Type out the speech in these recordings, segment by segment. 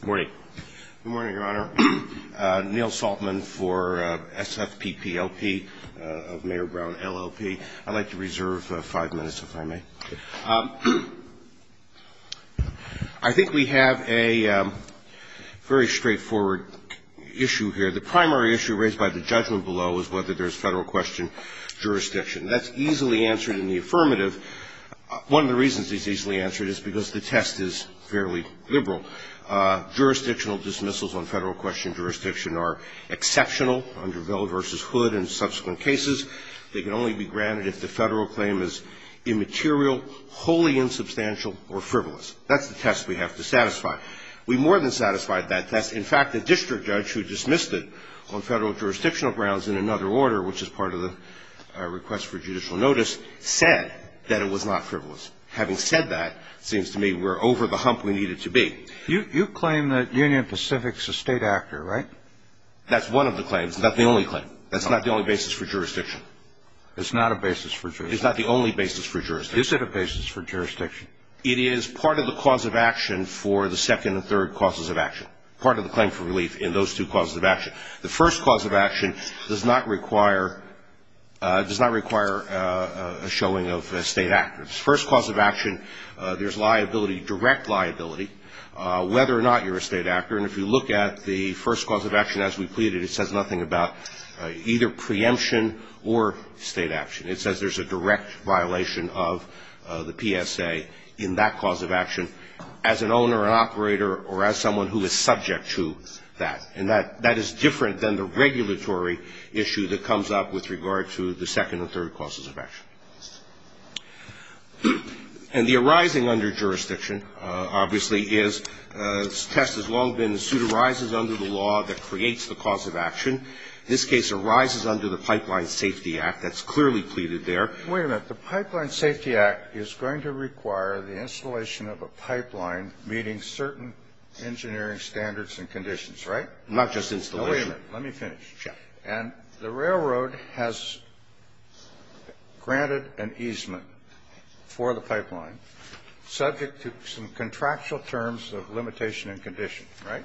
Good morning. Good morning, Your Honor. Neil Saltman for S.F.P.P.L.P. of Mayor Brown, L.L.P. I'd like to reserve five minutes, if I may. I think we have a very straightforward issue here. The primary issue raised by the judgment below is whether there's federal question jurisdiction. That's easily answered in the affirmative. One of the reasons it's easily answered is because the test is fairly liberal. Jurisdictional dismissals on federal question jurisdiction are exceptional under Ville v. Hood and subsequent cases. They can only be granted if the federal claim is immaterial, wholly insubstantial, or frivolous. That's the test we have to satisfy. We more than satisfied that test. In fact, the district judge who dismissed it on federal jurisdictional grounds in another order, which is part of the request for judicial notice, said that it was not frivolous. Having said that, it seems to me we're over the hump we need it to be. You claim that Union Pacific's a state actor, right? That's one of the claims. It's not the only claim. That's not the only basis for jurisdiction. It's not a basis for jurisdiction? It's not the only basis for jurisdiction. Is it a basis for jurisdiction? It is part of the cause of action for the second and third causes of action, part of the claim for relief in those two causes of action. The first cause of action does not require a showing of a state actor. The first cause of action, there's liability, direct liability, whether or not you're a state actor. And if you look at the first cause of action as we pleaded, it says nothing about either preemption or state action. It says there's a direct violation of the PSA in that cause of action as an owner, an operator, or as someone who is subject to that. And that is different than the regulatory issue that comes up with regard to the second and third causes of action. And the arising under jurisdiction, obviously, is test as long as the suit arises under the law that creates the cause of action. This case arises under the Pipeline Safety Act. That's clearly pleaded there. Wait a minute. The Pipeline Safety Act is going to require the installation of a pipeline meeting certain engineering standards and conditions, right? Not just installation. Wait a minute. Let me finish. And the railroad has granted an easement for the pipeline subject to some contractual terms of limitation and condition, right?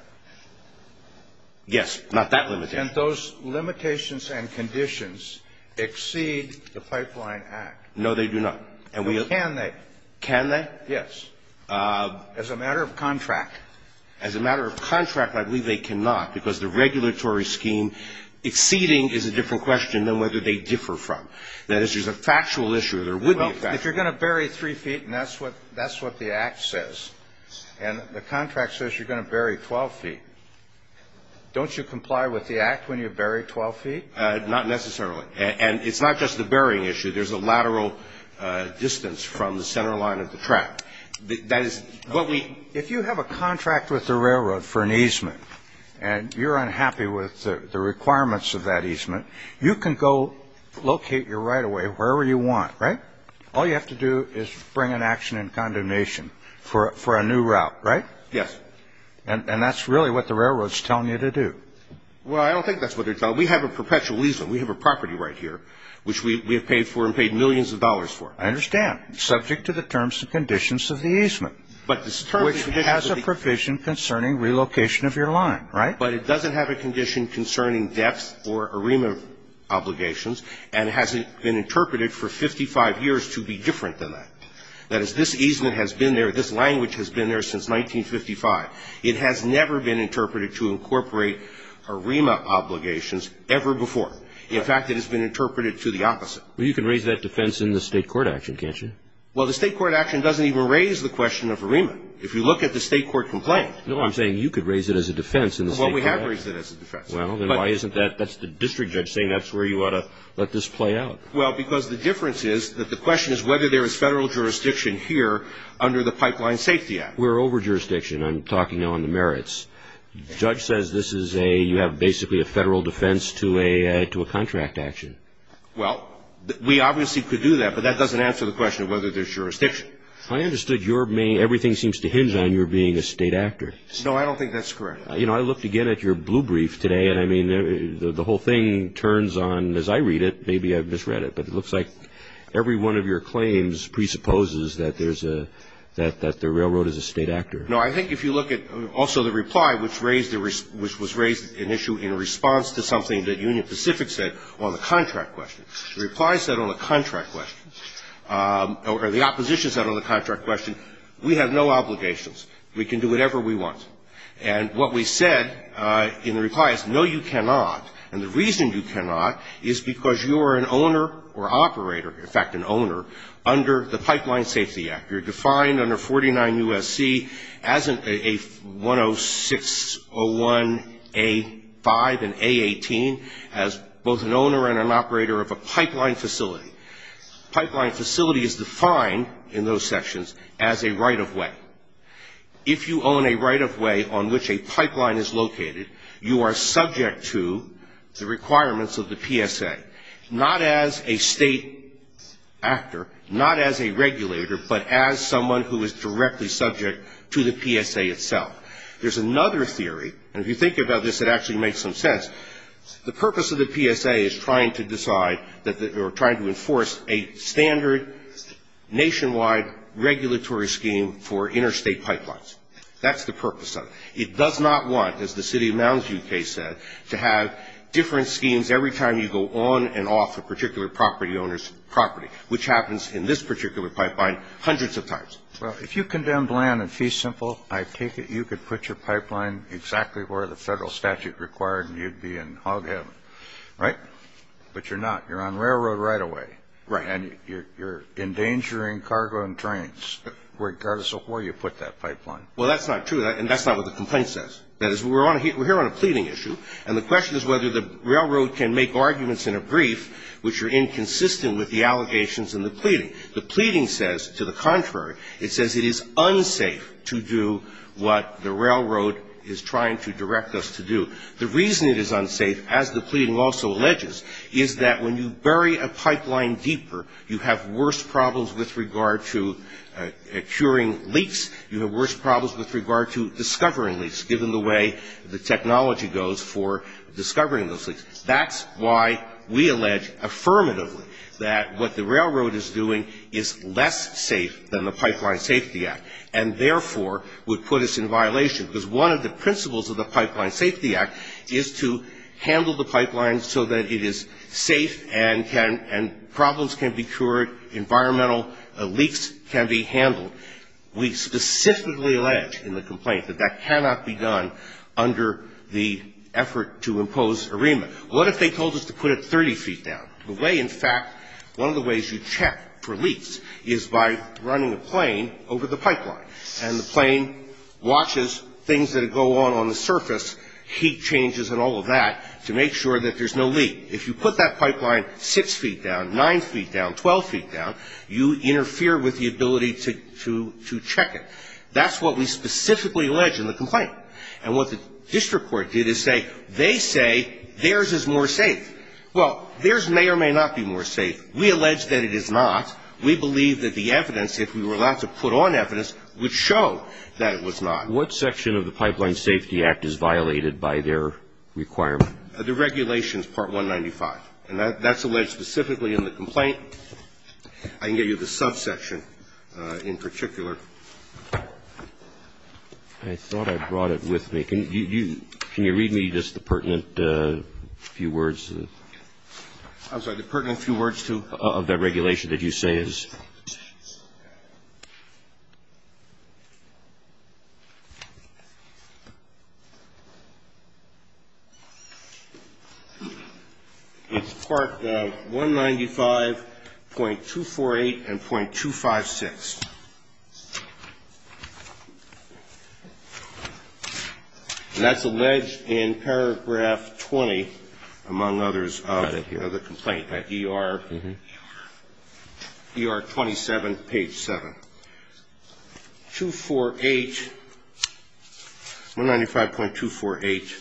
Yes. Not that limitation. Can't those limitations and conditions exceed the Pipeline Act? No, they do not. Can they? Can they? Yes. As a matter of contract. As a matter of contract, I believe they cannot, because the regulatory scheme exceeding is a different question than whether they differ from. That is, there's a factual issue. There would be a factual issue. Well, if you're going to bury three feet, and that's what the Act says, and the contract says you're going to bury 12 feet, don't you comply with the Act when you bury 12 feet? Not necessarily. And it's not just the burying issue. There's a lateral distance from the center line of the track. That is what we. If you have a contract with the railroad for an easement, and you're unhappy with the requirements of that easement, you can go locate your right-of-way wherever you want, right? All you have to do is bring an action in condemnation for a new route, right? Yes. And that's really what the railroad's telling you to do. Well, I don't think that's what they're telling you. We have a perpetual easement. We have a property right here, which we have paid for and paid millions of dollars for. I understand. Subject to the terms and conditions of the easement. But the terms and conditions of the easement. Which has a provision concerning relocation of your line, right? But it doesn't have a condition concerning depth or ARIMA obligations, and it hasn't been interpreted for 55 years to be different than that. That is, this easement has been there, this language has been there since 1955. It has never been interpreted to incorporate ARIMA obligations ever before. In fact, it has been interpreted to the opposite. Well, you can raise that defense in the state court action, can't you? Well, the state court action doesn't even raise the question of ARIMA. If you look at the state court complaint. No, I'm saying you could raise it as a defense in the state court action. Well, we have raised it as a defense. Well, then why isn't that, that's the district judge saying that's where you ought to let this play out. Well, because the difference is that the question is whether there is federal jurisdiction here under the Pipeline Safety Act. We're over jurisdiction. I'm talking on the merits. The judge says this is a, you have basically a federal defense to a contract action. Well, we obviously could do that, but that doesn't answer the question of whether there's jurisdiction. I understood your main, everything seems to hinge on your being a state actor. No, I don't think that's correct. You know, I looked again at your blue brief today, and I mean, the whole thing turns on, as I read it, maybe I misread it, but it looks like every one of your claims presupposes that there's a, that the railroad is a state actor. No, I think if you look at also the reply which raised, which was raised an issue in response to something that Union Pacific said on the contract question. The reply said on the contract question, or the opposition said on the contract question, we have no obligations. We can do whatever we want. And what we said in the reply is, no, you cannot. And the reason you cannot is because you are an owner or operator, in fact, an owner, under the Pipeline Safety Act. You're defined under 49 U.S.C. as a 10601A5 and A18 as both an owner and an operator of a pipeline facility. Pipeline facility is defined in those sections as a right-of-way. If you own a right-of-way on which a pipeline is located, you are subject to the requirements of the PSA. Not as a state actor, not as a regulator, but as someone who is directly subject to the PSA itself. There's another theory, and if you think about this, it actually makes some sense. The purpose of the PSA is trying to decide or trying to enforce a standard nationwide regulatory scheme for interstate pipelines. That's the purpose of it. It does not want, as the city of Mounds, U.K., said, to have different schemes every time you go on and off a particular property owner's property, which happens in this particular pipeline hundreds of times. Well, if you condemn Bland and Fee Simple, I take it you could put your pipeline exactly where the federal statute required and you'd be in hog heaven, right? But you're not. You're on railroad right-of-way. Right. And you're endangering cargo and trains regardless of where you put that pipeline. Well, that's not true, and that's not what the complaint says. That is, we're here on a pleading issue, and the question is whether the railroad can make arguments in a brief which are inconsistent with the allegations in the pleading. The pleading says, to the contrary, it says it is unsafe to do what the railroad is trying to direct us to do. The reason it is unsafe, as the pleading also alleges, is that when you bury a pipeline deeper, you have worse problems with regard to curing leaks. You have worse problems with regard to discovering leaks, given the way the technology goes for discovering those leaks. That's why we allege affirmatively that what the railroad is doing is less safe than the Pipeline Safety Act and, therefore, would put us in violation, because one of the principles of the Pipeline Safety Act is to handle the pipeline so that it is safe and can – and problems can be cured, environmental leaks can be handled. We specifically allege in the complaint that that cannot be done under the effort to impose AREMA. What if they told us to put it 30 feet down? The way, in fact, one of the ways you check for leaks is by running a plane over the pipeline, and the plane watches things that go on on the surface, heat changes and all of that, to make sure that there's no leak. If you put that pipeline 6 feet down, 9 feet down, 12 feet down, you interfere with the ability to check it. That's what we specifically allege in the complaint. And what the district court did is say they say theirs is more safe. Well, theirs may or may not be more safe. We allege that it is not. We believe that the evidence, if we were allowed to put on evidence, would show that it was not. What section of the Pipeline Safety Act is violated by their requirement? The regulations, Part 195. And that's alleged specifically in the complaint. I can get you the subsection in particular. I thought I brought it with me. Can you read me just the pertinent few words? I'm sorry, the pertinent few words to? Of that regulation that you say is? It's part 195.248 and .256. And that's alleged in paragraph 20, among others, of the complaint, at ER 27, page 7. 248, 195.248.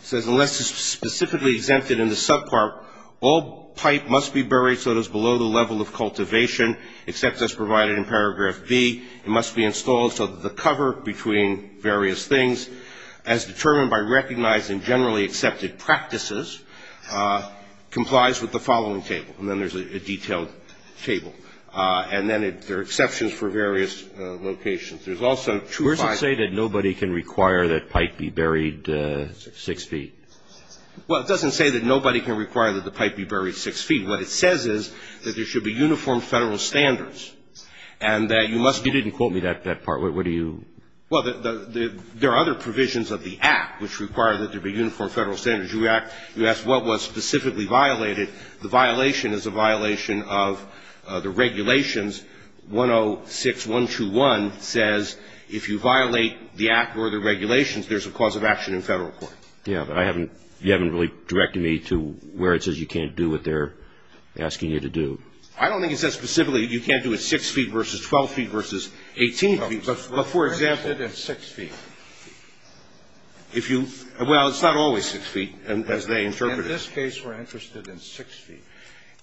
It says unless it's specifically exempted in the subpart, all pipe must be buried so it is below the level of cultivation, except as provided in paragraph B. It must be installed so that the cover between various things, as determined by recognizing generally accepted practices, complies with the following table. And then there's a detailed table. And then there are exceptions for various locations. There's also true five. Where does it say that nobody can require that pipe be buried 6 feet? Well, it doesn't say that nobody can require that the pipe be buried 6 feet. What it says is that there should be uniform Federal standards and that you must be. You didn't quote me that part. What do you? Well, there are other provisions of the Act which require that there be uniform Federal standards. You ask what was specifically violated. The violation is a violation of the regulations 106.121 says if you violate the Act or the regulations, there's a cause of action in Federal court. Yeah, but I haven't you haven't really directed me to where it says you can't do what they're asking you to do. I don't think it says specifically you can't do it 6 feet versus 12 feet versus 18 feet. But for example. It's 6 feet. Well, it's not always 6 feet as they interpret it. In this case, we're interested in 6 feet.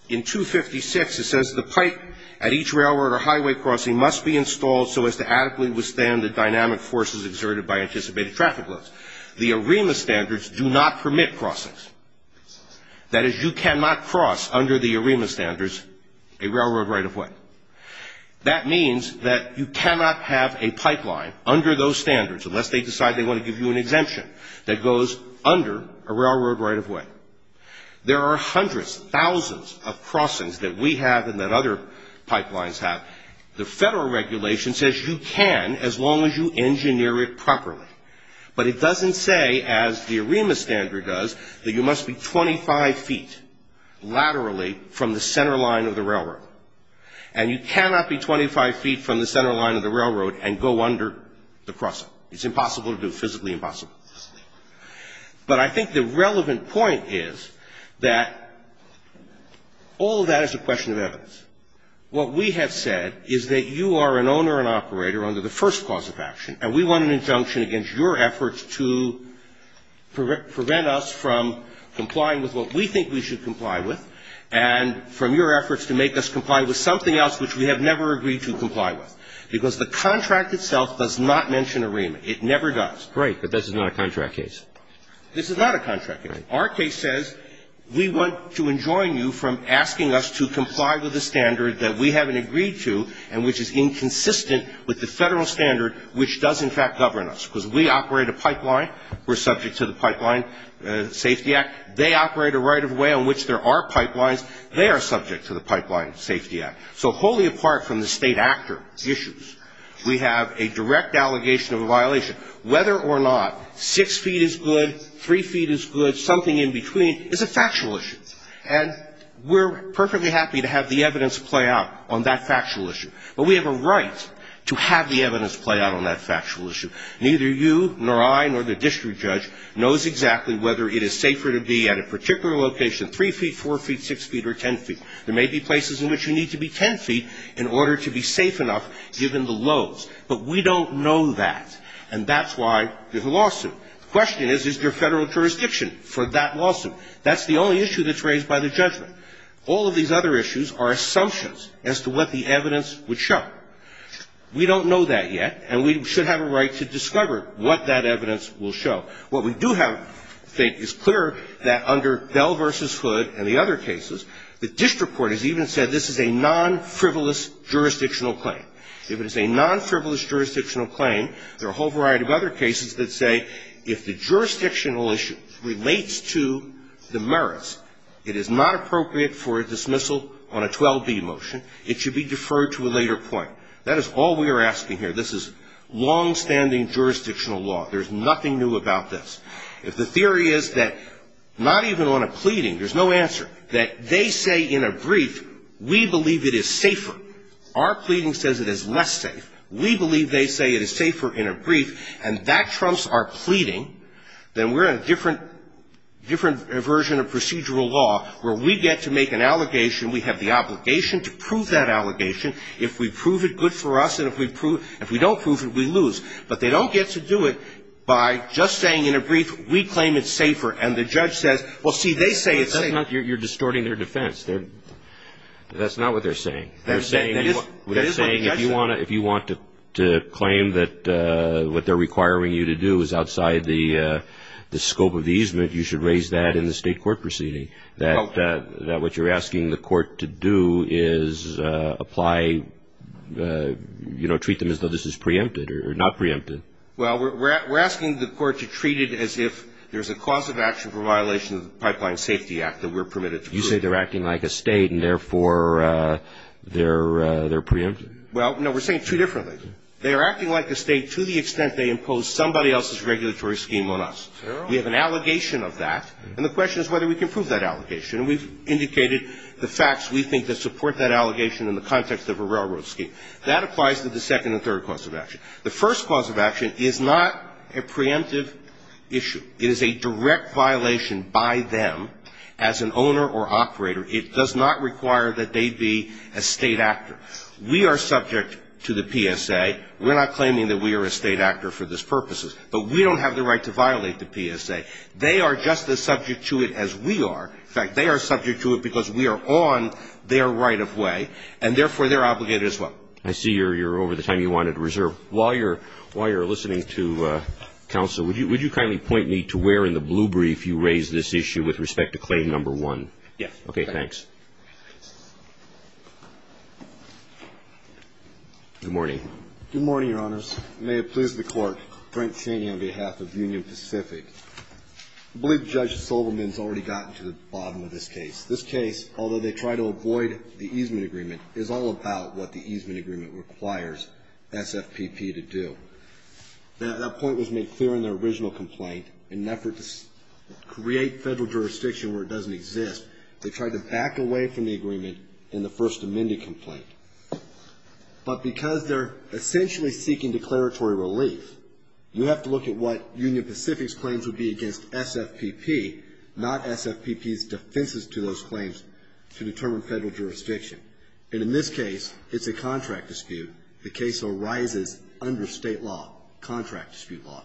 In 256, it says the pipe at each railroad or highway crossing must be installed so as to adequately withstand the dynamic forces exerted by anticipated traffic loads. The AREMA standards do not permit crossings. That is, you cannot cross under the AREMA standards a railroad right-of-way. That means that you cannot have a pipeline under those standards unless they decide they want to give you an exemption that goes under a railroad right-of-way. There are hundreds, thousands of crossings that we have and that other pipelines have. The Federal regulation says you can as long as you engineer it properly. But it doesn't say, as the AREMA standard does, that you must be 25 feet laterally from the center line of the railroad. And you cannot be 25 feet from the center line of the railroad and go under the crossing. It's impossible to do, physically impossible. But I think the relevant point is that all of that is a question of evidence. What we have said is that you are an owner and operator under the first cause of action, and we want an injunction against your efforts to prevent us from complying with what we think we should comply with and from your efforts to make us comply with something else which we have never agreed to comply with. Because the contract itself does not mention AREMA. It never does. Right. But this is not a contract case. This is not a contract case. Our case says we want to enjoin you from asking us to comply with a standard that we haven't agreed to and which is inconsistent with the Federal standard which does, in fact, govern us. Because we operate a pipeline. We're subject to the Pipeline Safety Act. They operate a right of way on which there are pipelines. They are subject to the Pipeline Safety Act. So wholly apart from the state actor issues, we have a direct allegation of a violation. Whether or not six feet is good, three feet is good, something in between is a factual issue. And we're perfectly happy to have the evidence play out on that factual issue. But we have a right to have the evidence play out on that factual issue. Neither you nor I nor the district judge knows exactly whether it is safer to be at a particular location, three feet, four feet, six feet or ten feet. There may be places in which you need to be ten feet in order to be safe enough given the lows. But we don't know that. And that's why there's a lawsuit. The question is, is there Federal jurisdiction for that lawsuit? That's the only issue that's raised by the judgment. All of these other issues are assumptions as to what the evidence would show. We don't know that yet. And we should have a right to discover what that evidence will show. What we do have, I think, is clear that under Bell v. Hood and the other cases, the district court has even said this is a non-frivolous jurisdictional claim. If it is a non-frivolous jurisdictional claim, there are a whole variety of other cases that say if the jurisdictional issue relates to the merits, it is not appropriate for a dismissal on a 12B motion. It should be deferred to a later point. That is all we are asking here. This is longstanding jurisdictional law. There's nothing new about this. If the theory is that not even on a pleading, there's no answer, that they say in a brief, we believe it is safer, our pleading says it is less safe, we believe they say it is safer in a brief, and that trumps our pleading, then we're in a different version of procedural law where we get to make an allegation. We have the obligation to prove that allegation. If we prove it good for us and if we don't prove it, we lose. But they don't get to do it by just saying in a brief, we claim it's safer, and the judge says, well, see, they say it's safer. You're distorting their defense. That's not what they're saying. They're saying if you want to claim that what they're requiring you to do is outside the scope of the easement, you should raise that in the state court proceeding, that what you're asking the court to do is apply, you know, treat them as though this is preempted or not preempted. Well, we're asking the court to treat it as if there's a cause of action for violation of the Pipeline Safety Act that we're permitted to prove. You say they're acting like a state and, therefore, they're preempted. Well, no, we're saying it two differently. They are acting like a state to the extent they impose somebody else's regulatory scheme on us. We have an allegation of that, and the question is whether we can prove that allegation. And we've indicated the facts we think that support that allegation in the context of a railroad scheme. That applies to the second and third cause of action. The first cause of action is not a preemptive issue. It is a direct violation by them as an owner or operator. It does not require that they be a state actor. We are subject to the PSA. We're not claiming that we are a state actor for this purposes. But we don't have the right to violate the PSA. They are just as subject to it as we are. In fact, they are subject to it because we are on their right-of-way, and, therefore, they're obligated as well. I see you're over the time you wanted to reserve. While you're listening to counsel, would you kindly point me to where in the blue brief you raised this issue with respect to Claim No. 1? Thanks. Good morning. Good morning, Your Honors. May it please the Court, Frank Chaney on behalf of Union Pacific. I believe Judge Sobelman has already gotten to the bottom of this case. This case, although they tried to avoid the easement agreement, is all about what the easement agreement requires SFPP to do. That point was made clear in their original complaint. In an effort to create federal jurisdiction where it doesn't exist, they tried to back away from the agreement in the First Amendment complaint. But because they're essentially seeking declaratory relief, you have to look at what Union Pacific's claims would be against SFPP, not SFPP's defenses to those claims to determine federal jurisdiction. And in this case, it's a contract dispute. The case arises under state law, contract dispute law.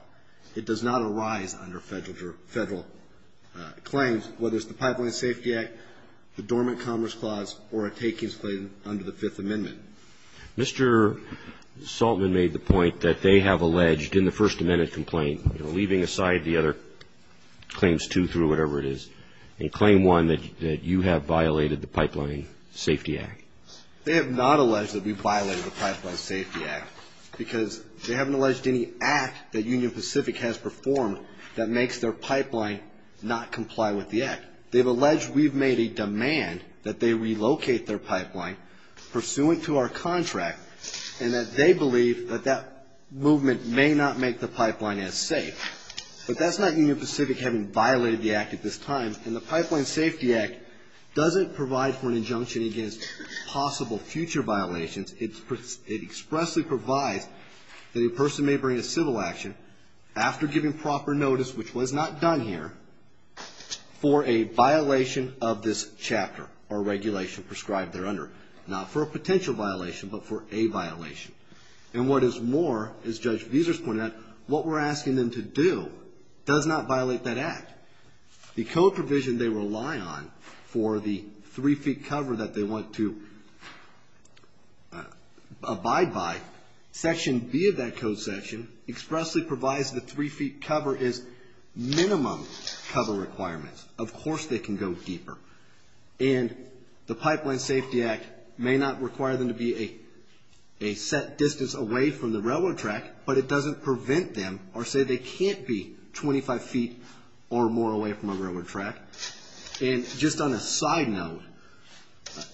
It does not arise under federal claims, whether it's the Pipeline Safety Act, the Dormant Commerce Clause, or a takings claim under the Fifth Amendment. Mr. Saltman made the point that they have alleged in the First Amendment complaint, leaving aside the other claims two through, whatever it is, in Claim 1 that you have violated the Pipeline Safety Act. They have not alleged that we violated the Pipeline Safety Act because they haven't alleged any act that Union Pacific has performed that makes their pipeline not comply with the act. They've alleged we've made a demand that they relocate their pipeline pursuant to our contract and that they believe that that movement may not make the pipeline as safe. But that's not Union Pacific having violated the act at this time. And the Pipeline Safety Act doesn't provide for an injunction against possible future violations. It expressly provides that a person may bring a civil action after giving proper notice, which was not done here, for a violation of this chapter or regulation prescribed thereunder. Not for a potential violation, but for a violation. And what is more, as Judge Vesers pointed out, what we're asking them to do does not violate that act. The code provision they rely on for the three-feet cover that they want to abide by, Section B of that code section expressly provides the three-feet cover is minimum cover requirements. Of course they can go deeper. And the Pipeline Safety Act may not require them to be a set distance away from the railroad track, but it doesn't prevent them or say they can't be 25 feet or more away from a railroad track. And just on a side note,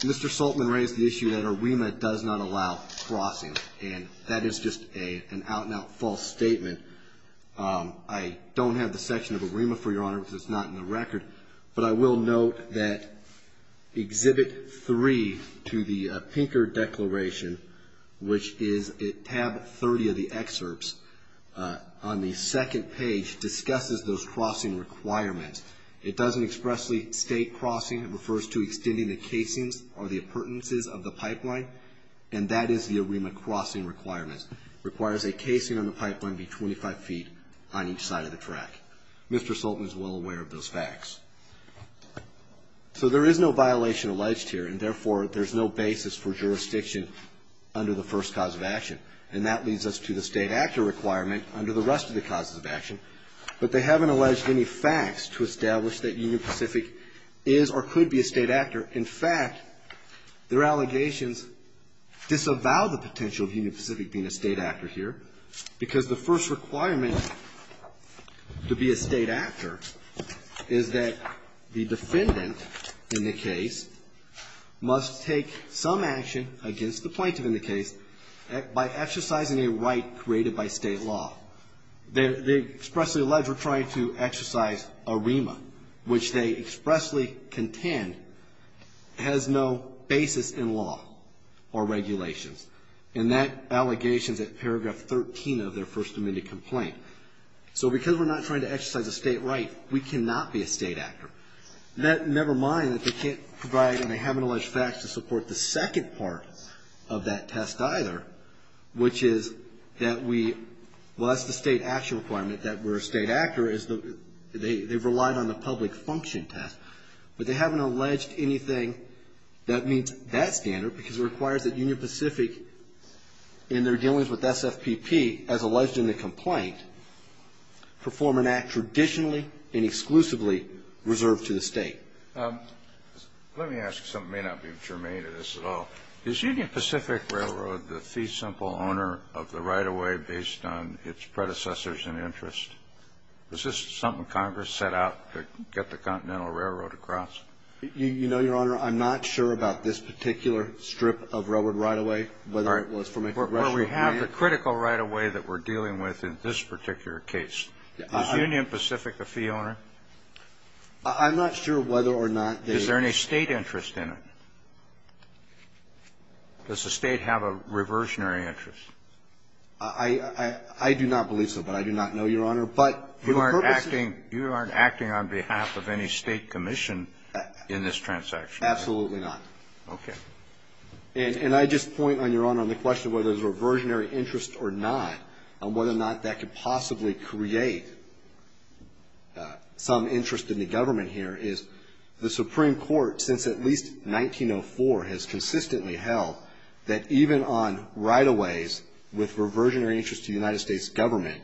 Mr. Saltman raised the issue that AREMA does not allow crossing, and that is just an out-and-out false statement. I don't have the section of AREMA, for your honor, because it's not in the record, but I will note that Exhibit 3 to the Pinker Declaration, which is at Tab 30 of the excerpts, on the second page discusses those crossing requirements. It doesn't expressly state crossing. It refers to extending the casings or the appurtenances of the pipeline, and that is the AREMA crossing requirements. It requires a casing on the pipeline be 25 feet on each side of the track. Mr. Saltman is well aware of those facts. So there is no violation alleged here, and therefore there's no basis for jurisdiction under the first cause of action, and that leads us to the state actor requirement under the rest of the causes of action. But they haven't alleged any facts to establish that Union Pacific is or could be a state actor. In fact, their allegations disavow the potential of Union Pacific being a state actor here because the first requirement to be a state actor is that the defendant in the case must take some action against the plaintiff in the case by exercising a right created by state law. They expressly allege we're trying to exercise AREMA, which they expressly contend has no basis in law or regulations, and that allegation is at paragraph 13 of their First Amendment complaint. So because we're not trying to exercise a state right, we cannot be a state actor. Never mind that they can't provide and they haven't alleged facts to support the second part of that test either, which is that we, well, that's the state action requirement that we're a state actor, is they've relied on the public function test. But they haven't alleged anything that meets that standard because it requires that Union Pacific in their dealings with SFPP as alleged in the complaint perform an act traditionally and exclusively reserved to the state. Let me ask something that may not be germane to this at all. Is Union Pacific Railroad the fee simple owner of the right-of-way based on its predecessors and interest? Is this something Congress set out to get the Continental Railroad across? You know, Your Honor, I'm not sure about this particular strip of railroad right-of-way, whether it was from a congressional point of view. Well, we have the critical right-of-way that we're dealing with in this particular case. Is Union Pacific a fee owner? I'm not sure whether or not they are. Is there any state interest in it? Does the state have a reversionary interest? I do not believe so. But I do not know, Your Honor. But for the purpose of the case. You aren't acting on behalf of any state commission in this transaction, are you? Absolutely not. Okay. And I just point, Your Honor, on the question whether there's a reversionary interest or not and whether or not that could possibly create some interest in the government here is the Supreme Court, since at least 1904, has consistently held that even on right-of-ways with reversionary interest to the United States government,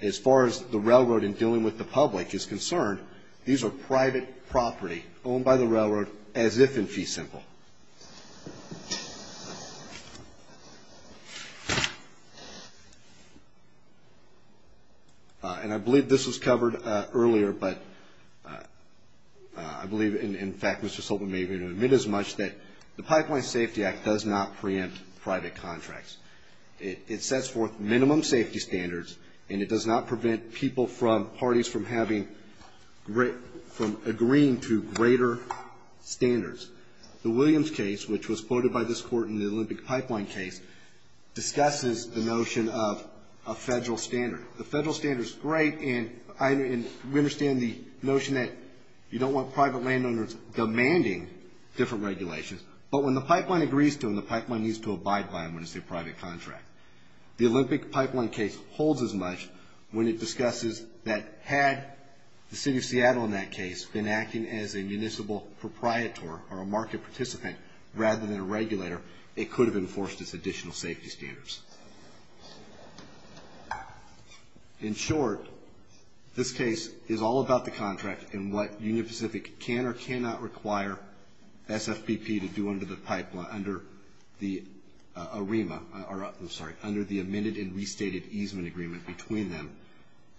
as far as the railroad in dealing with the public is concerned, these are private property owned by the railroad as if in fee simple. And I believe this was covered earlier, but I believe, in fact, Mr. Sobel may even admit as much that the Pipeline Safety Act does not preempt private contracts. It sets forth minimum safety standards, and it does not prevent people from parties from agreeing to greater standards. The Williams case, which was quoted by this Court in the Olympic Pipeline case, discusses the notion of a federal standard. The federal standard is great, and we understand the notion that you don't want private landowners demanding different regulations. But when the pipeline agrees to them, the pipeline needs to abide by them when it's a private contract. The Olympic Pipeline case holds as much when it discusses that had the city of Seattle in that case been acting as a municipal proprietor or a market participant rather than a regulator, it could have enforced its additional safety standards. In short, this case is all about the contract and what Union Pacific can or cannot require SFPP to do under the Arima, I'm sorry, under the amended and restated easement agreement between them.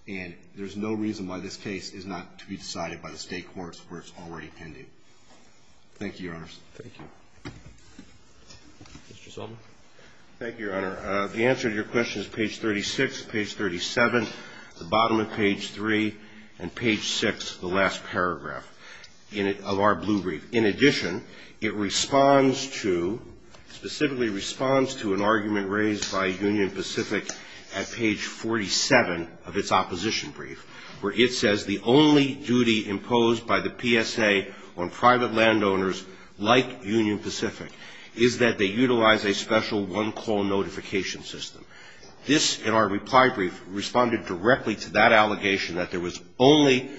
And there's no reason why this case is not to be decided by the state courts where it's already pending. Thank you, Your Honors. Thank you. Mr. Zolman. Thank you, Your Honor. The answer to your question is page 36, page 37, the bottom of page 3, and page 6, the last paragraph of our blue brief. In addition, it responds to, specifically responds to an argument raised by Union Pacific at page 47 of its opposition brief where it says the only duty imposed by the PSA on private landowners like Union Pacific is that they utilize a special one-call notification system. This, in our reply brief, responded directly to that allegation that there was only,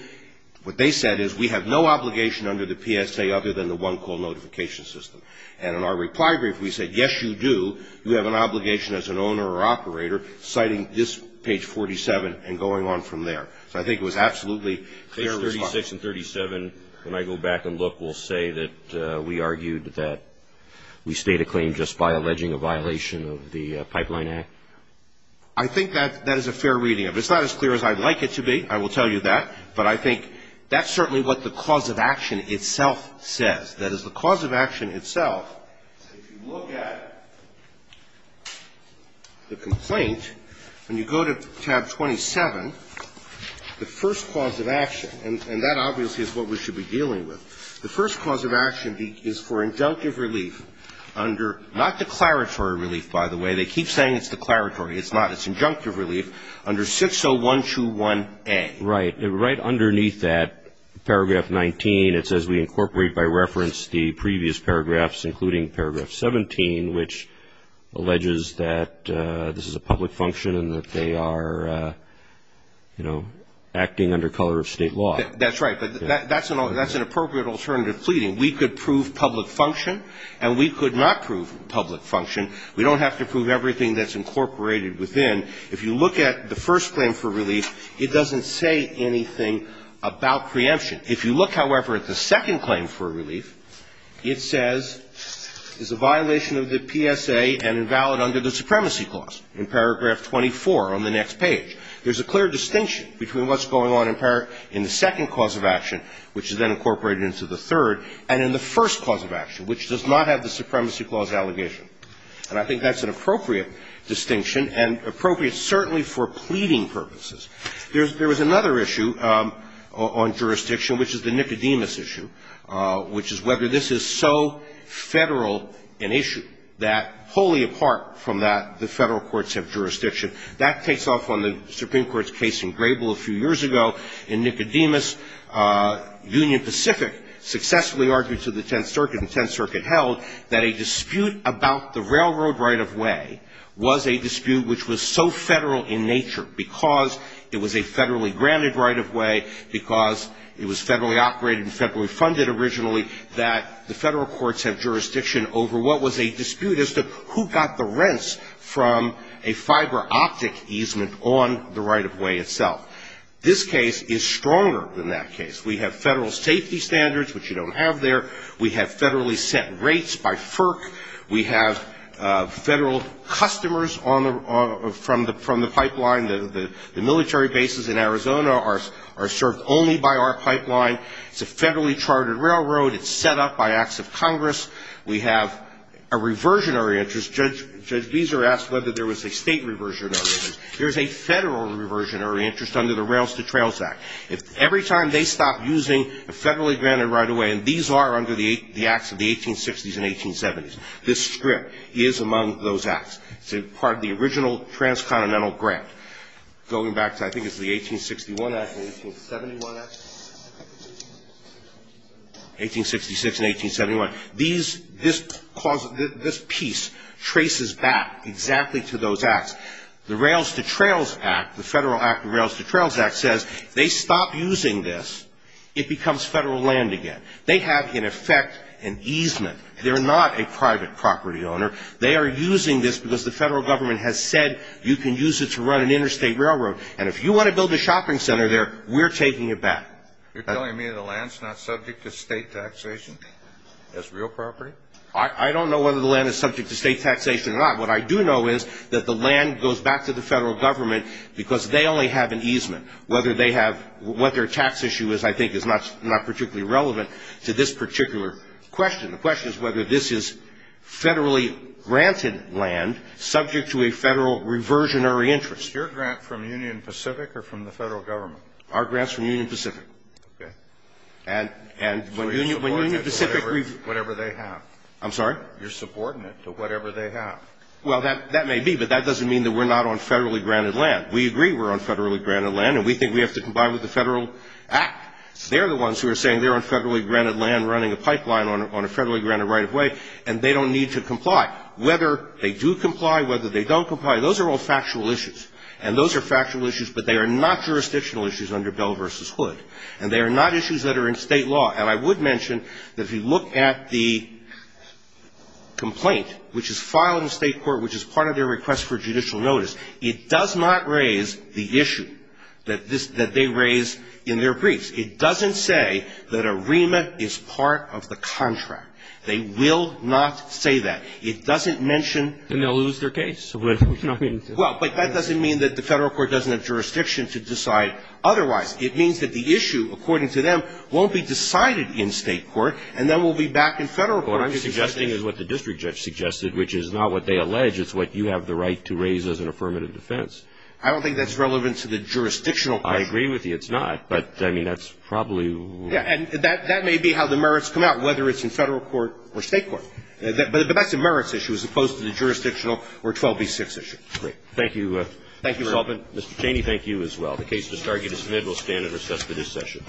what they said is we have no obligation under the PSA other than the one-call notification system. And in our reply brief, we said, yes, you do. You have an obligation as an owner or operator citing this page 47 and going on from there. So I think it was absolutely fair response. Page 36 and 37, when I go back and look, will say that we argued that we state a claim just by alleging a violation of the Pipeline Act? I think that is a fair reading of it. It's not as clear as I'd like it to be. I will tell you that. But I think that's certainly what the cause of action itself says. That is, the cause of action itself, if you look at the complaint, when you go to tab 27, the first cause of action, and that obviously is what we should be dealing with. The first cause of action is for injunctive relief under, not declaratory relief, by the way. They keep saying it's declaratory. It's not. It's injunctive relief under 60121A. Right. Right underneath that, paragraph 19, it says we incorporate by reference the previous paragraphs, including paragraph 17, which alleges that this is a public function and that they are, you know, acting under color of state law. That's right. But that's an appropriate alternative fleeting. We could prove public function, and we could not prove public function. We don't have to prove everything that's incorporated within. If you look at the first claim for relief, it doesn't say anything about preemption. If you look, however, at the second claim for relief, it says it's a violation of the PSA and invalid under the Supremacy Clause in paragraph 24 on the next page. There's a clear distinction between what's going on in the second cause of action, which is then incorporated into the third, and in the first cause of action, which does not have the Supremacy Clause allegation. And I think that's an appropriate distinction and appropriate certainly for pleading purposes. There's another issue on jurisdiction, which is the Nicodemus issue, which is whether this is so Federal an issue that wholly apart from that, the Federal courts have jurisdiction. That takes off on the Supreme Court's case in Grable a few years ago in Nicodemus. Union Pacific successfully argued to the Tenth Circuit, and the Tenth Circuit held that a dispute about the railroad right-of-way was a dispute which was so Federal in nature because it was a Federally granted right-of-way, because it was Federally operated and Federally funded originally, that the Federal courts have jurisdiction over what was a dispute as to who got the rents from a fiber optic easement on the right-of-way itself. This case is stronger than that case. We have Federal safety standards, which you don't have there. We have Federally set rates by FERC. We have Federal customers from the pipeline. The military bases in Arizona are served only by our pipeline. It's a Federally chartered railroad. It's set up by acts of Congress. We have a reversionary interest. Judge Beezer asked whether there was a State reversionary interest. There is a Federal reversionary interest under the Rails to Trails Act. Every time they stop using a Federally granted right-of-way, and these are under the acts of the 1860s and 1870s, this strip is among those acts. It's part of the original transcontinental grant. Going back to, I think it's the 1861 act and 1871 act. 1866 and 1871. These, this piece traces back exactly to those acts. The Rails to Trails Act, the Federal Act of Rails to Trails Act says if they stop using this, it becomes Federal land again. They have, in effect, an easement. They're not a private property owner. They are using this because the Federal government has said you can use it to run an interstate railroad, and if you want to build a shopping center there, we're taking it back. You're telling me the land's not subject to State taxation as real property? I don't know whether the land is subject to State taxation or not. What I do know is that the land goes back to the Federal government because they only have an easement. Whether they have, what their tax issue is, I think, is not particularly relevant to this particular question. The question is whether this is Federally granted land subject to a Federal reversionary interest. Is your grant from Union Pacific or from the Federal government? Our grant's from Union Pacific. Okay. And when Union Pacific reverses. So you're subordinate to whatever they have. I'm sorry? You're subordinate to whatever they have. Well, that may be, but that doesn't mean that we're not on Federally granted land. We agree we're on Federally granted land, and we think we have to combine with the Federal Act. They're the ones who are saying they're on Federally granted land running a pipeline on a Federally granted right-of-way, and they don't need to comply. Whether they do comply, whether they don't comply, those are all factual issues. And those are factual issues, but they are not jurisdictional issues under Bell v. Hood. And they are not issues that are in State law. And I would mention that if you look at the complaint, which is filed in the State court, which is part of their request for judicial notice, it does not raise the issue that they raise in their briefs. It doesn't say that a remit is part of the contract. They will not say that. It doesn't mention that. Then they'll lose their case. Well, but that doesn't mean that the Federal court doesn't have jurisdiction to decide otherwise. It means that the issue, according to them, won't be decided in State court, and then we'll be back in Federal court. What I'm suggesting is what the district judge suggested, which is not what they allege. It's what you have the right to raise as an affirmative defense. I don't think that's relevant to the jurisdictional question. I agree with you. It's not. But, I mean, that's probably. And that may be how the merits come out, whether it's in Federal court or State court. But that's a merits issue as opposed to the jurisdictional or 12b-6 issue. Great. Thank you, Mr. Sullivan. Thank you, Your Honor. Mr. Cheney, thank you as well. The case to submit will stand at recess for this session.